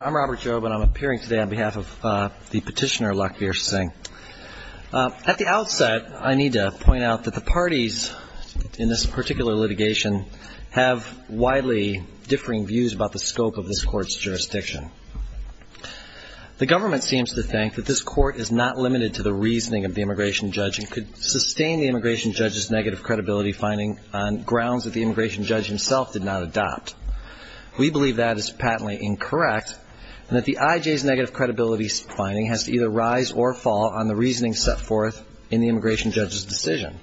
I'm Robert Jobe and I'm appearing today on behalf of the petitioner Lakbir Singh. At the outset, I need to point out that the parties in this particular litigation have widely differing views about the scope of this court's jurisdiction. The government seems to think that this court is not limited to the reasoning of the immigration judge and could sustain the immigration judge's negative credibility finding on grounds that the immigration judge himself did not adopt. We believe that is patently incorrect and that the IJ's negative credibility finding has to either rise or fall on the reasoning set forth in the immigration judge's decision.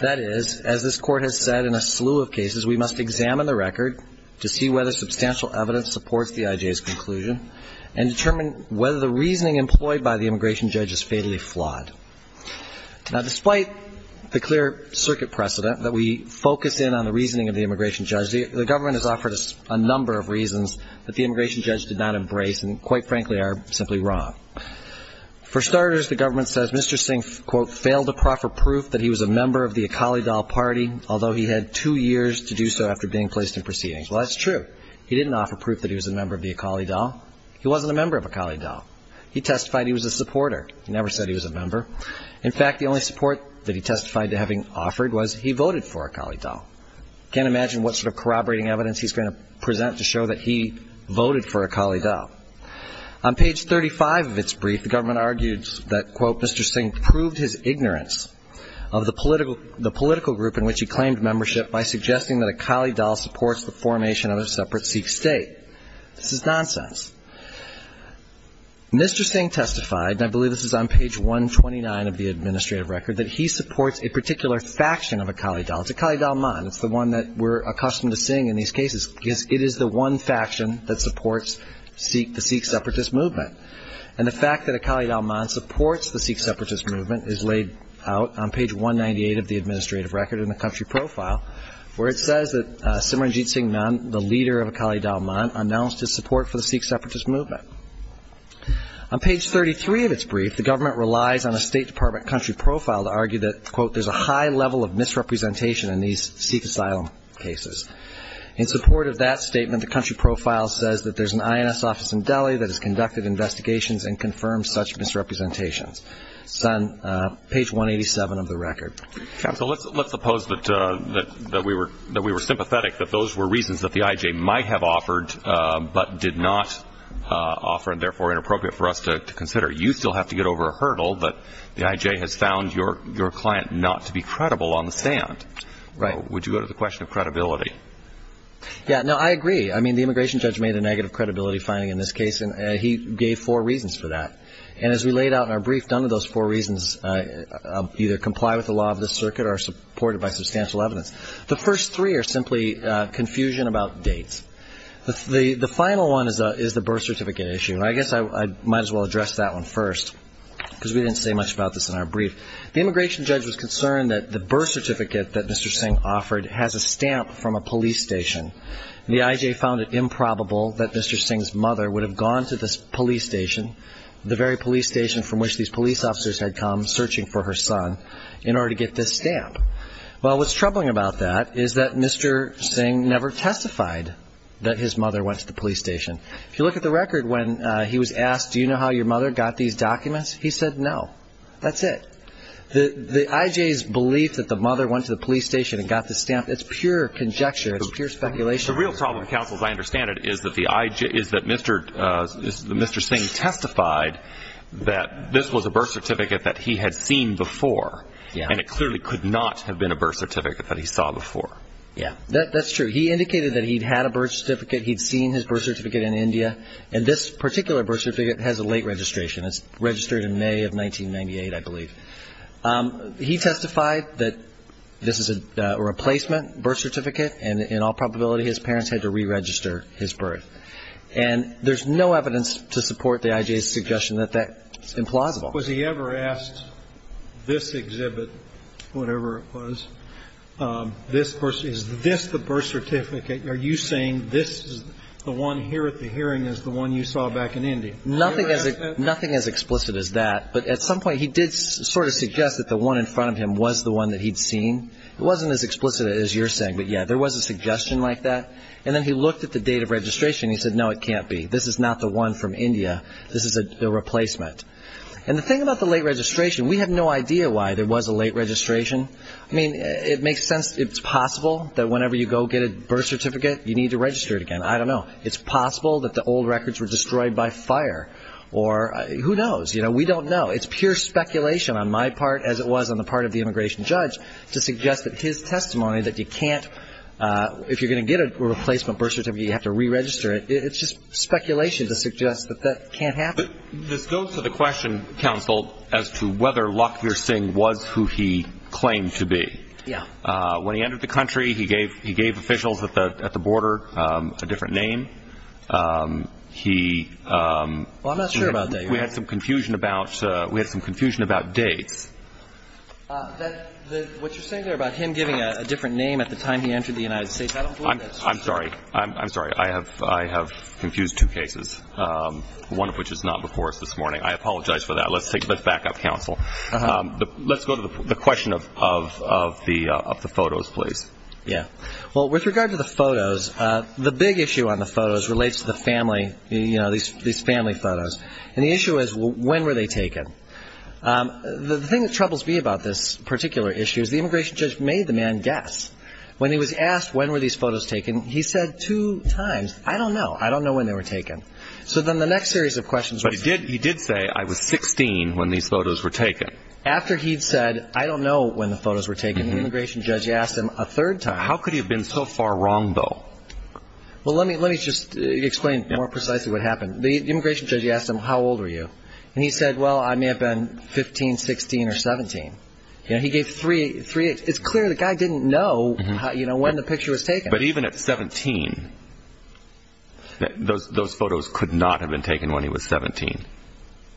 That is, as this court has said in a slew of cases, we must examine the record to see whether substantial evidence supports the IJ's conclusion and determine whether the reasoning employed by the immigration judge is fatally flawed. Now, despite the clear circuit precedent that we focus in on the reasoning of the immigration judge, the government has offered us a number of reasons that the immigration judge did not embrace and quite frankly are simply wrong. For starters, the government says Mr. Singh, quote, failed to proffer proof that he was a member of the Akali Dal party, although he had two years to do so after being placed in proceedings. Well, that's true. He didn't offer proof that he was a member of the Akali Dal. He wasn't a member of Akali Dal. He testified he was a supporter. He never said he was a member. In fact, the only support that he testified to having offered was he voted for Akali Dal. Can't imagine what sort of corroborating evidence he's going to present to show that he voted for Akali Dal. On page 35 of its brief, the government argued that, quote, Mr. Singh proved his ignorance of the political group in which he claimed membership by suggesting that Akali Dal supports the formation of a separate Sikh state. This is nonsense. Mr. Singh testified, and I believe this is on page 129 of the administrative record, that he supports a particular faction of Akali Dal. It's Akali Dal Man. It's the one that we're accustomed to seeing in these cases, because it is the one faction that supports the Sikh separatist movement. And the fact that Akali Dal Man supports the Sikh separatist movement is laid out on page 198 of the administrative record in the country profile, where it says that Simranjit Singh Man, the leader of Akali Dal Man, announced his support for the Sikh separatist movement. On page 33 of its brief, the government relies on a State Department country profile to argue that, quote, there's a high level of misrepresentation in these Sikh asylum cases. In support of that statement, the country profile says that there's an INS office in Delhi that has conducted investigations and confirmed such misrepresentations. It's on page 187 of the record. Counsel, let's suppose that we were sympathetic, that those were reasons that the IJ might have offered, but did not offer, and therefore inappropriate for us to consider. You still have to get over a hurdle, but the IJ has found your client not to be credible on the stand. Right. Would you go to the question of credibility? Yeah. No, I agree. I mean, the immigration judge made a negative credibility finding in this case, and he gave four reasons for that. And as we laid out in our brief, none of those four reasons either comply with the law of this circuit or are supported by substantial evidence. The first three are simply confusion about dates. The final one is the birth certificate issue. And I guess I might as well address that one first, because we didn't say much about this in our brief. The immigration judge was concerned that the birth certificate that Mr. Singh offered has a stamp from a police station. The IJ found it improbable that Mr. Singh's mother would have gone to this police station, the very police station from which these police officers had come searching for her son, in order to get this stamp. Well, what's troubling about that is that Mr. Singh never testified that his mother went to the police station. If you look at the record when he was asked, do you know how your mother got these documents? He said no. That's it. The IJ's belief that the mother went to the police station and got the stamp, it's pure conjecture. It's pure speculation. The real problem, counsel, as I understand it, is that Mr. Singh testified that this was a birth certificate that he had seen before, and it clearly could not have been a birth certificate that he saw before. That's true. He indicated that he'd had a birth certificate. He'd seen his birth certificate in India, and this particular birth certificate has a late registration. It's registered in May of 1998, I believe. He testified that this is a replacement birth certificate, and in all probability, his parents had to re-register his birth. And there's no evidence to support the IJ's suggestion that that's implausible. Was he ever asked, this exhibit, whatever it was, this birth certificate, is this the birth certificate? Are you saying this is the one here at the hearing is the one you saw back in India? Nothing as explicit as that, but at some point, he did sort of suggest that the one in front of him was the one that he'd seen. It wasn't as explicit as you're saying, but yeah, there was a suggestion like that. And then he looked at the date of registration, and he said, no, it can't be. This is not the one from India. This is a replacement. And the thing about the late registration, we have no idea why there was a late registration. I mean, it makes sense. It's possible that whenever you go get a birth certificate, you need to register it again. I don't know. It's possible that the old records were destroyed by fire, or who knows? We don't know. It's pure speculation on my part, as it was on the part of the immigration judge, to suggest that his testimony that you can't, if you're going to get a replacement birth certificate, you have to re-register it. It's just speculation to suggest that that can't happen. This goes to the question, counsel, as to whether Lakhvir Singh was who he claimed to be. Yeah. When he entered the country, he gave officials at the border a different name. He – Well, I'm not sure about that, Your Honor. We had some confusion about – we had some confusion about dates. What you're saying there about him giving a different name at the time he entered the United States, I don't believe that's true. I'm sorry. I'm sorry. I have confused two cases, one of which is not before us this morning. I apologize for that. Let's take – let's back up, counsel. Uh-huh. Let's go to the question of the photos, please. Yeah. Well, with regard to the photos, the big issue on the photos relates to the family, you know, these family photos. And the issue is, when were they taken? The thing that troubles me about this particular issue is the immigration judge made the man guess. When he was asked when were these photos taken, he said two times, I don't know. I don't know when they were taken. So then the next series of questions – But he did – he did say, I was 16 when these photos were taken. After he'd said, I don't know when the photos were taken, the immigration judge asked him a third time. How could he have been so far wrong, though? Well, let me – let me just explain more precisely what happened. The immigration judge asked him, how old were you? And he said, well, I may have been 15, 16, or 17. You know, he gave three – three – it's clear the guy didn't know. Mm-hmm. You know, when the picture was taken. But even at 17, those – those photos could not have been taken when he was 17.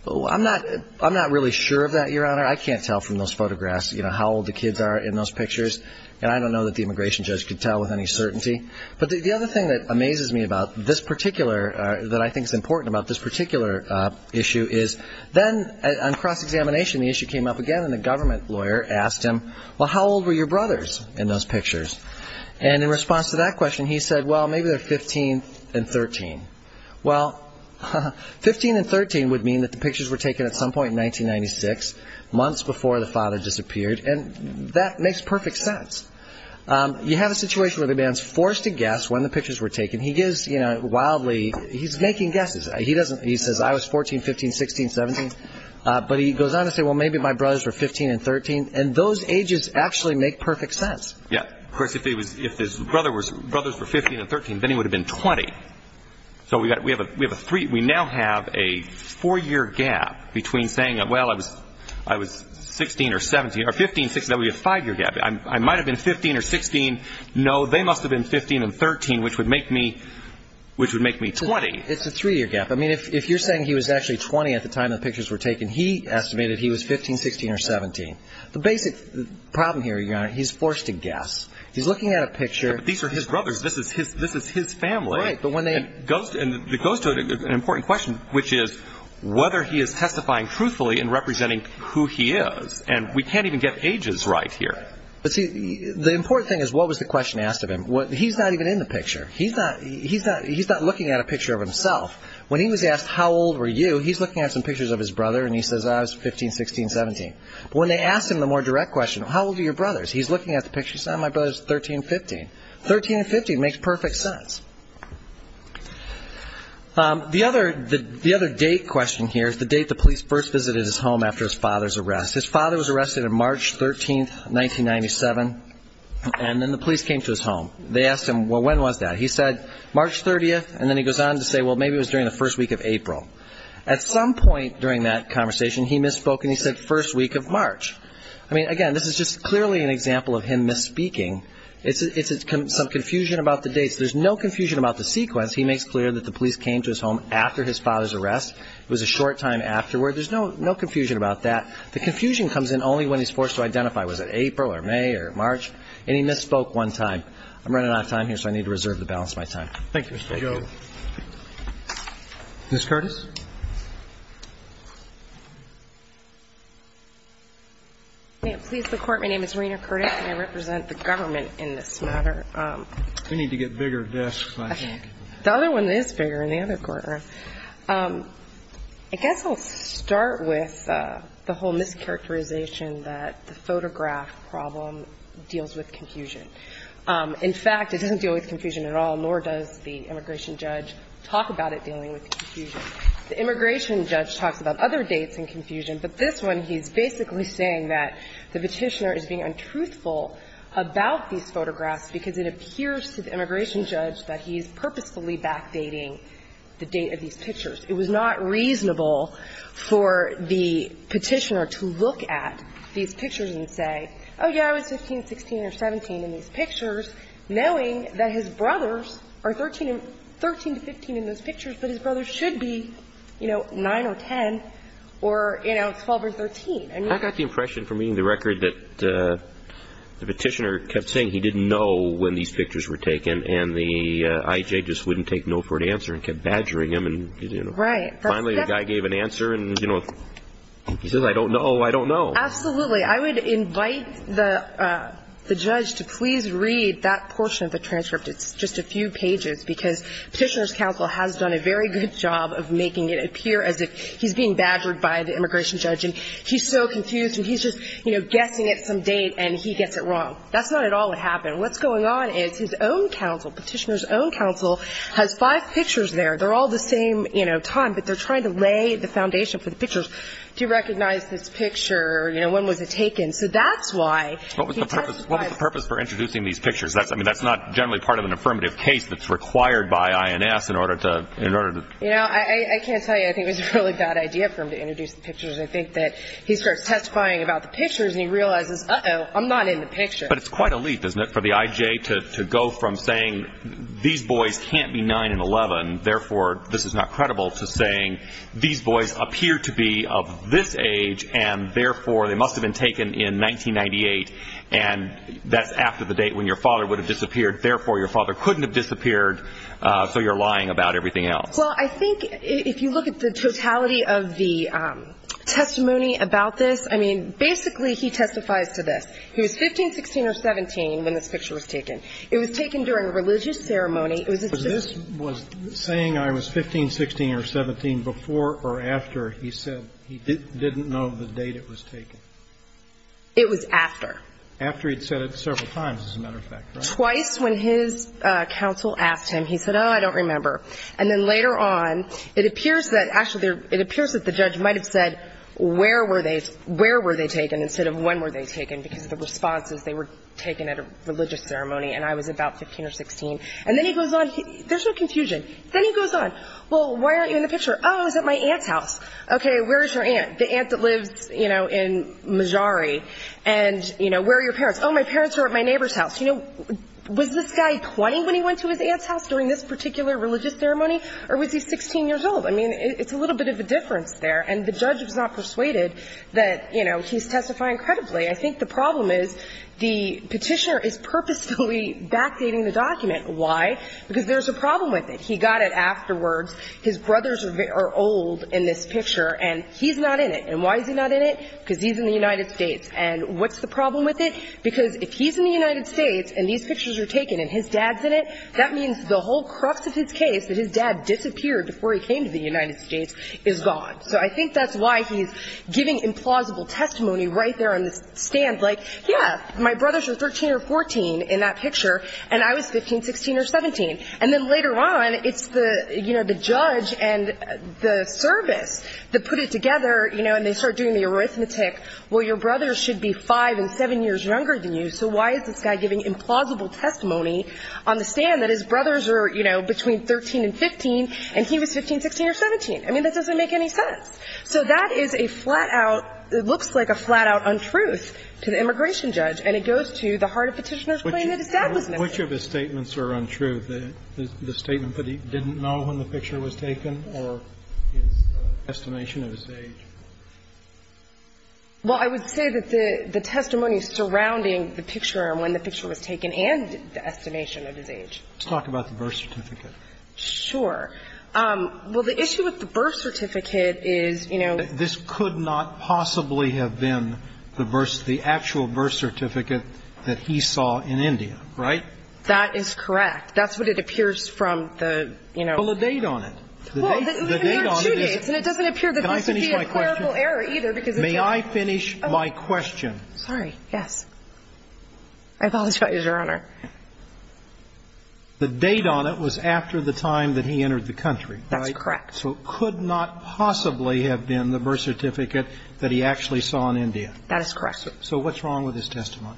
Well, I'm not – I'm not really sure of that, Your Honor. I can't tell from those photographs, you know, how old the kids are in those pictures. And I don't know that the immigration judge could tell with any certainty. But the other thing that amazes me about this particular – that I think is important about this particular issue is, then on cross-examination, the issue came up again, and the government lawyer asked him, well, how old were your brothers in those pictures? And in response to that question, he said, well, maybe they're 15 and 13. Well, 15 and 13 would mean that the pictures were taken at some point in 1996, months before the father disappeared, and that makes perfect sense. You have a situation where the man's forced to guess when the pictures were taken. He gives, you know, wildly – he's making guesses. He doesn't – he says, I was 14, 15, 16, 17. But he goes on to say, well, maybe my brothers were 15 and 13, and those ages actually make perfect sense. Yeah. Of course, if his brothers were 15 and 13, then he would have been 20. So we have a three – we now have a four-year gap between saying, well, I was 16 or 17 – or 15, 16. That would be a five-year gap. I might have been 15 or 16. No, they must have been 15 and 13, which would make me – which would make me 20. It's a three-year gap. I mean, if you're saying he was actually 20 at the time the pictures were taken, he estimated he was 15, 16, or 17. The basic problem here, Your Honor, he's forced to guess. He's looking at a picture. These are his brothers. This is his family. Right. But when they – And it goes to an important question, which is whether he is testifying truthfully in representing who he is. And we can't even get ages right here. But see, the important thing is what was the question asked of him. He's not even in the picture. He's not – he's not looking at a picture of himself. When he was asked, How old were you? He's looking at some pictures of his brother, and he says, I was 15, 16, 17. When they ask him the more direct question, How old are your brothers? He's looking at the picture. He says, My brother's 13, 15. 13 and 15 makes perfect sense. The other – the other date question here is the date the police first visited his home after his father's arrest. His father was arrested on March 13, 1997, and then the police came to his home. They asked him, Well, when was that? He said, March 30th. And then he goes on to say, Well, maybe it was during the first week of April. At some point during that conversation, he misspoke and he said, First week of March. I mean, again, this is just clearly an example of him misspeaking. It's some confusion about the dates. There's no confusion about the sequence. He makes clear that the police came to his home after his father's arrest. It was a short time afterward. There's no confusion about that. The confusion comes in only when he's forced to identify. Was it April or May or March? And he misspoke one time. I'm running out of time here, so I need to reserve the balance of my time. Thank you, Mr. Joe. Ms. Curtis. May it please the Court, my name is Rena Curtis, and I represent the government in this matter. We need to get bigger desks, I think. The other one is bigger in the other courtroom. I guess I'll start with the whole mischaracterization that the photograph problem deals with confusion. In fact, it doesn't deal with confusion at all, nor does the immigration judge talk about it dealing with confusion. The immigration judge talks about other dates and confusion, but this one, he's basically saying that the Petitioner is being untruthful about these photographs because it appears to the immigration judge that he's purposefully backdating the date of these pictures. It was not reasonable for the Petitioner to look at these pictures and say, oh, yeah, I was 15, 16, or 17 in these pictures, knowing that his brothers are 13 to 15 in those pictures, but his brothers should be, you know, 9 or 10, or, you know, 12 or 13. I got the impression from reading the record that the Petitioner kept saying he didn't know when these pictures were taken, and the I.J. just wouldn't take no for an answer and kept badgering him. Right. Finally, the guy gave an answer, and, you know, he says, I don't know, I don't know. Absolutely. I would invite the judge to please read that portion of the transcript. It's just a few pages, because Petitioner's counsel has done a very good job of making it appear as if he's being badgered by the immigration judge, and he's so confused, and he's just, you know, guessing at some date, and he gets it wrong. That's not at all what happened. What's going on is his own counsel, Petitioner's own counsel, has five pictures there. They're all the same, you know, time, but they're trying to lay the foundation for the pictures. To recognize this picture, you know, when was it taken? So that's why he testified. What was the purpose for introducing these pictures? I mean, that's not generally part of an affirmative case that's required by INS in order to, in order to. You know, I can't tell you. I think it was a really bad idea for him to introduce the pictures. I think that he starts testifying about the pictures, and he realizes, uh-oh, I'm not in the picture. But it's quite a leap, isn't it, for the I.J. to go from saying these boys can't be of this age, and therefore, they must have been taken in 1998, and that's after the date when your father would have disappeared. Therefore, your father couldn't have disappeared, so you're lying about everything else. Well, I think if you look at the totality of the testimony about this, I mean, basically, he testifies to this. He was 15, 16, or 17 when this picture was taken. It was taken during a religious ceremony. It was at the ceremony. But this was saying I was 15, 16, or 17 before or after he said he didn't know the date it was taken. It was after. After he'd said it several times, as a matter of fact, right? Twice when his counsel asked him, he said, oh, I don't remember. And then later on, it appears that actually there – it appears that the judge might have said where were they – where were they taken instead of when were they taken, because the response is they were taken at a religious ceremony, and I was about 15 or 16. And then he goes on – there's no confusion. Then he goes on. Well, why aren't you in the picture? Oh, it was at my aunt's house. Okay. Where is your aunt? The aunt that lives, you know, in Mejari. And, you know, where are your parents? Oh, my parents are at my neighbor's house. You know, was this guy 20 when he went to his aunt's house during this particular religious ceremony, or was he 16 years old? I mean, it's a little bit of a difference there. And the judge was not persuaded that, you know, he's testifying credibly. I think the problem is the Petitioner is purposefully backdating the document. Why? Because there's a problem with it. He got it afterwards. His brothers are old in this picture, and he's not in it. And why is he not in it? Because he's in the United States. And what's the problem with it? Because if he's in the United States and these pictures are taken and his dad's in it, that means the whole crux of his case, that his dad disappeared before he came to the United States, is gone. So I think that's why he's giving implausible testimony right there on the stand, like, yeah, my brothers are 13 or 14 in that picture, and I was 15, 16, or 17. And then later on, it's the, you know, the judge and the service that put it together, you know, and they start doing the arithmetic, well, your brothers should be 5 and 7 years younger than you, so why is this guy giving implausible testimony on the stand that his brothers are, you know, between 13 and 15, and he was 15, 16, or 17? I mean, that doesn't make any sense. So that is a flat-out – it looks like a flat-out untruth to the immigration judge, and it goes to the heart of Petitioner's claim that his dad was missing. Kennedy. Which of his statements are untrue, the statement that he didn't know when the picture was taken or his estimation of his age? Well, I would say that the testimony surrounding the picture and when the picture was taken and the estimation of his age. Let's talk about the birth certificate. Sure. Well, the issue with the birth certificate is, you know – This could not possibly have been the actual birth certificate that he saw in India, right? That is correct. That's what it appears from the, you know – Well, the date on it. Well, there are two dates, and it doesn't appear that this would be a clerical error, either, because – May I finish my question? Sorry, yes. I apologize, Your Honor. The date on it was after the time that he entered the country. That's correct. So it could not possibly have been the birth certificate that he actually saw in India. That is correct, sir. So what's wrong with his testimony?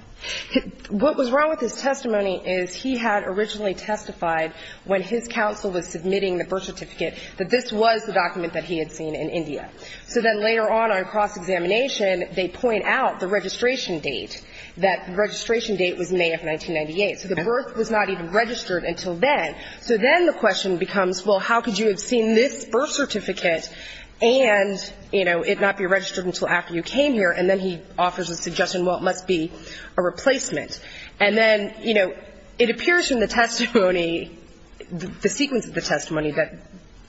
What was wrong with his testimony is he had originally testified when his counsel was submitting the birth certificate that this was the document that he had seen in India. So then later on, on cross-examination, they point out the registration date, that the registration date was May of 1998. So the birth was not even registered until then. So then the question becomes, well, how could you have seen this birth certificate and, you know, it not be registered until after you came here? And then he offers a suggestion, well, it must be a replacement. And then, you know, it appears from the testimony, the sequence of the testimony that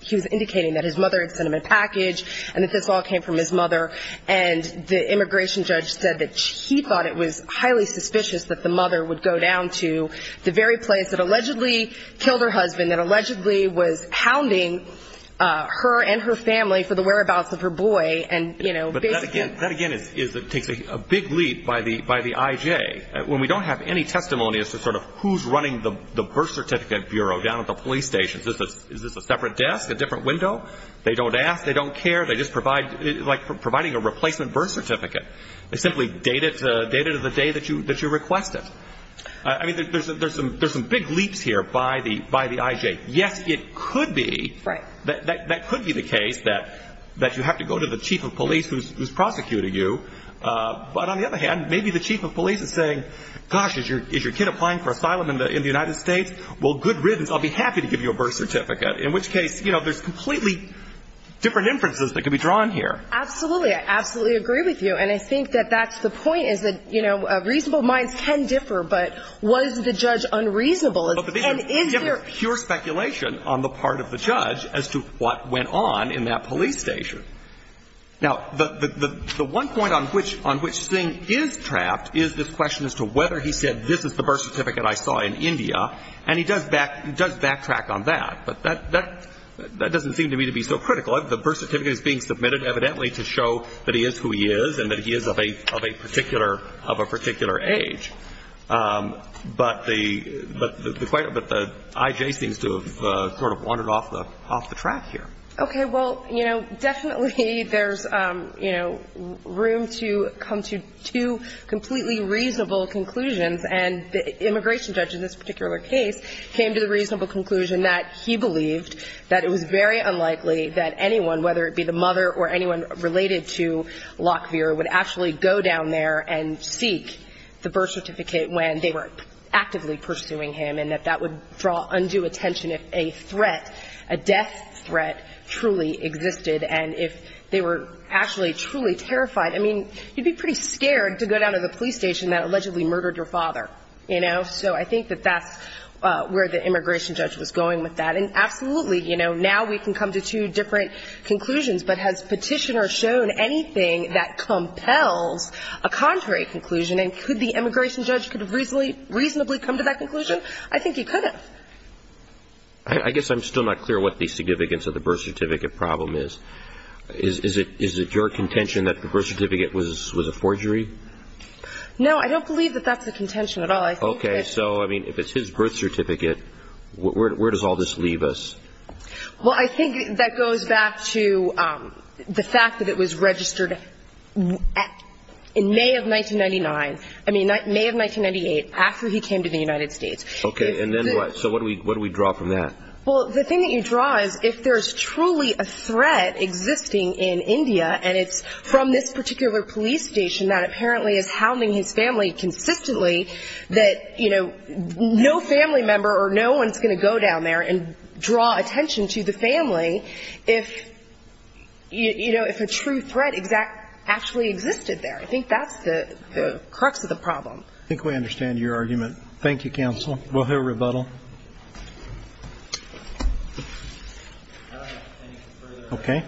he was indicating that his mother had sent him a package and that this all came from his mother, and the immigration judge said that he thought it was highly suspicious that the mother would go down to the very place that allegedly killed her husband, that allegedly was hounding her and her family for the whereabouts of her boy, and, you know, basically – But that again is – takes a big leap by the I.J. When we don't have any testimony as to sort of who's running the birth certificate bureau down at the police stations, is this a separate desk, a different window? They don't ask, they don't care, they just provide – it's like providing a replacement birth certificate. They simply date it to the day that you request it. I mean, there's some big leaps here by the I.J. Yes, it could be that could be the case that you have to go to the chief of police who's prosecuting you, but on the other hand, maybe the chief of police is saying, gosh, is your kid applying for asylum in the United States? Well, good riddance, I'll be happy to give you a birth certificate, in which case, you know, there's completely different inferences that could be drawn here. Absolutely. I absolutely agree with you. And I think that that's the point, is that, you know, reasonable minds can differ, but was the judge unreasonable? And is there – You have pure speculation on the part of the judge as to what went on in that police station. Now, the one point on which – on which Singh is trapped is this question as to whether he said, this is the birth certificate I saw in India. And he does back – does backtrack on that. But that – that doesn't seem to me to be so critical. The birth certificate is being submitted evidently to show that he is who he is and that he is of a – of a particular – of a particular age. But the – but the – but the IJ seems to have sort of wandered off the – off the track here. Okay. Well, you know, definitely there's, you know, room to come to two completely reasonable conclusions. And the immigration judge in this particular case came to the reasonable conclusion that he believed that it was very unlikely that anyone, whether it be the mother or anyone related to Lokvir, would actually go down there and seek the birth certificate when they were actively pursuing him and that that would draw undue attention if a threat, a death threat, truly existed and if they were actually truly terrified. I mean, you'd be pretty scared to go down to the police station that allegedly murdered your father, you know. So I think that that's where the immigration judge was going with that. And absolutely, you know, now we can come to two different conclusions. But has Petitioner shown anything that compels a contrary conclusion? And could the immigration judge could reasonably come to that conclusion? I think he could have. I guess I'm still not clear what the significance of the birth certificate problem is. Is it – is it your contention that the birth certificate was a forgery? No, I don't believe that that's the contention at all. Okay. So, I mean, if it's his birth certificate, where does all this leave us? Well, I think that goes back to the fact that it was registered in May of 1999. I mean, May of 1998, after he came to the United States. Okay. And then what? So what do we – what do we draw from that? Well, the thing that you draw is if there's truly a threat existing in India and it's from this particular police station that apparently is hounding his family consistently, that, you know, no family member or no one's going to go down there and draw attention to the family if, you know, if a true threat exact – actually existed there. I think that's the – the crux of the problem. I think we understand your argument. Thank you, counsel. We'll hear rebuttal. Okay.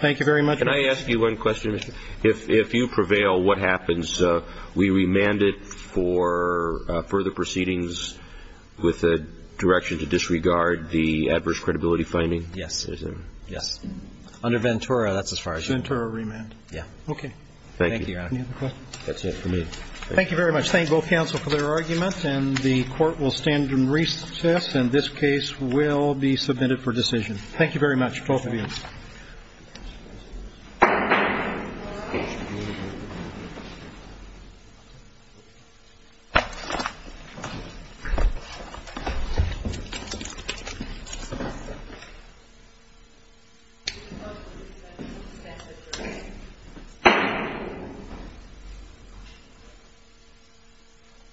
Thank you very much. Can I ask you one question, Mr. – if you prevail, what happens? We remand it for further proceedings with a direction to disregard the adverse credibility finding? Yes. Yes. Under Ventura, that's as far as you go. Ventura remand? Yeah. Okay. Thank you. Thank you, Your Honor. That's it for me. Thank you very much. Thank both counsel for their arguments, and the Court will stand and recess, and this case will be submitted for decision. Thank you very much, both of you.